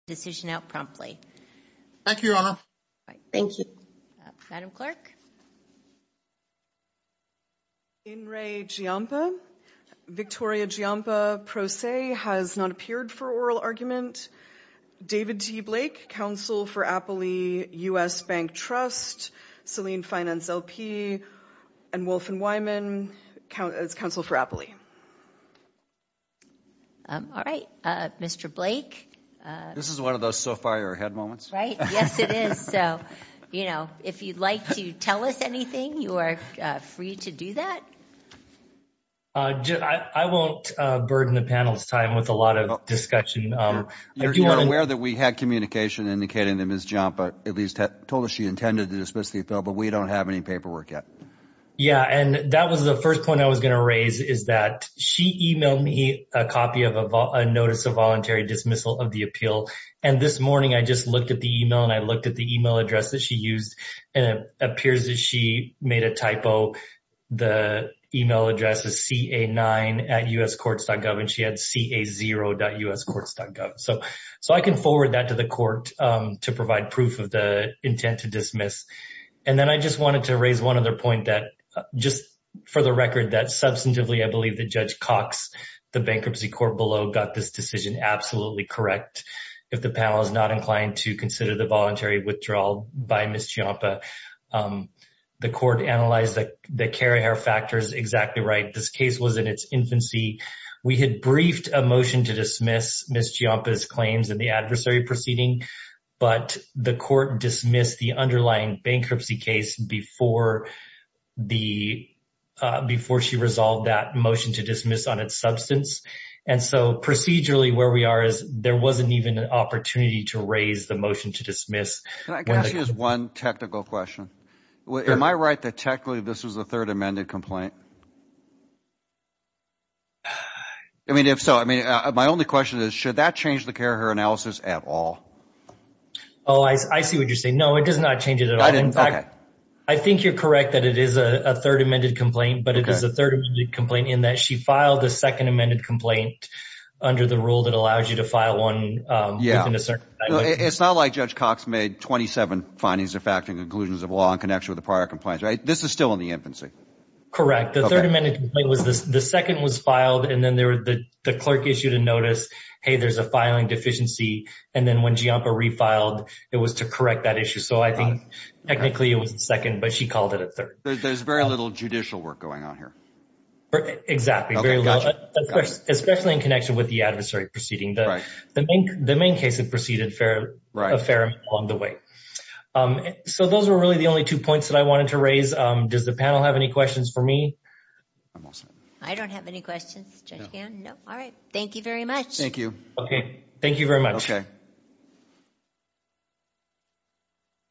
Decision out promptly. Thank you. All right. Thank you. Madam clerk In re Giampa Victoria Giampa pro se has not appeared for oral argument David T. Blake Council for Appley US Bank Trust Selene Finance LP and Wolf and Wyman Count as Council for Appley All right, Mr. Blake, this is one of those so far ahead moments, right? Yes, it is. So, you know, if you'd like to tell us anything you are free to do that I won't burden the panel's time with a lot of discussion I'm aware that we had communication indicating that Ms. Giampa at least had told us she intended to dismiss the appeal But we don't have any paperwork yet Yeah, and that was the first point I was gonna raise is that she emailed me a copy of a Notice of voluntary dismissal of the appeal and this morning I just looked at the email and I looked at the email address that she used and it appears that she made a typo The email address is ca9 at us courts gov and she had ca0 dot us courts gov So so I can forward that to the court to provide proof of the intent to dismiss And then I just wanted to raise one other point that just for the record that substantively I believe that Judge Cox The bankruptcy court below got this decision. Absolutely, correct If the panel is not inclined to consider the voluntary withdrawal by Ms. Giampa The court analyzed that the carrier factor is exactly right. This case was in its infancy We had briefed a motion to dismiss Ms. Giampa's claims in the adversary proceeding But the court dismissed the underlying bankruptcy case before the Before she resolved that motion to dismiss on its substance And so procedurally where we are is there wasn't even an opportunity to raise the motion to dismiss And I guess here's one technical question Am I right that technically this was the third amended complaint? I mean if so, I mean my only question is should that change the carrier analysis at all? Oh, I I see what you're saying. No, it does not change it at all I think you're correct that it is a third amended complaint But it is a third complaint in that she filed the second amended complaint Under the rule that allows you to file one. Um, yeah It's not like Judge Cox made 27 findings of fact and conclusions of law in connection with the prior complaints, right? This is still in the infancy Correct. The third amendment was the second was filed and then there were the the clerk issued a notice Hey, there's a filing deficiency and then when giampa refiled it was to correct that issue So I think technically it was the second but she called it a third. There's very little judicial work going on here Exactly. Very well Especially in connection with the adversary proceeding the right the main the main case that proceeded fair right affair along the way Um, so those were really the only two points that I wanted to raise. Um, does the panel have any questions for me? I'm all set. I don't have any questions. No. All right. Thank you very much Okay. Thank you very much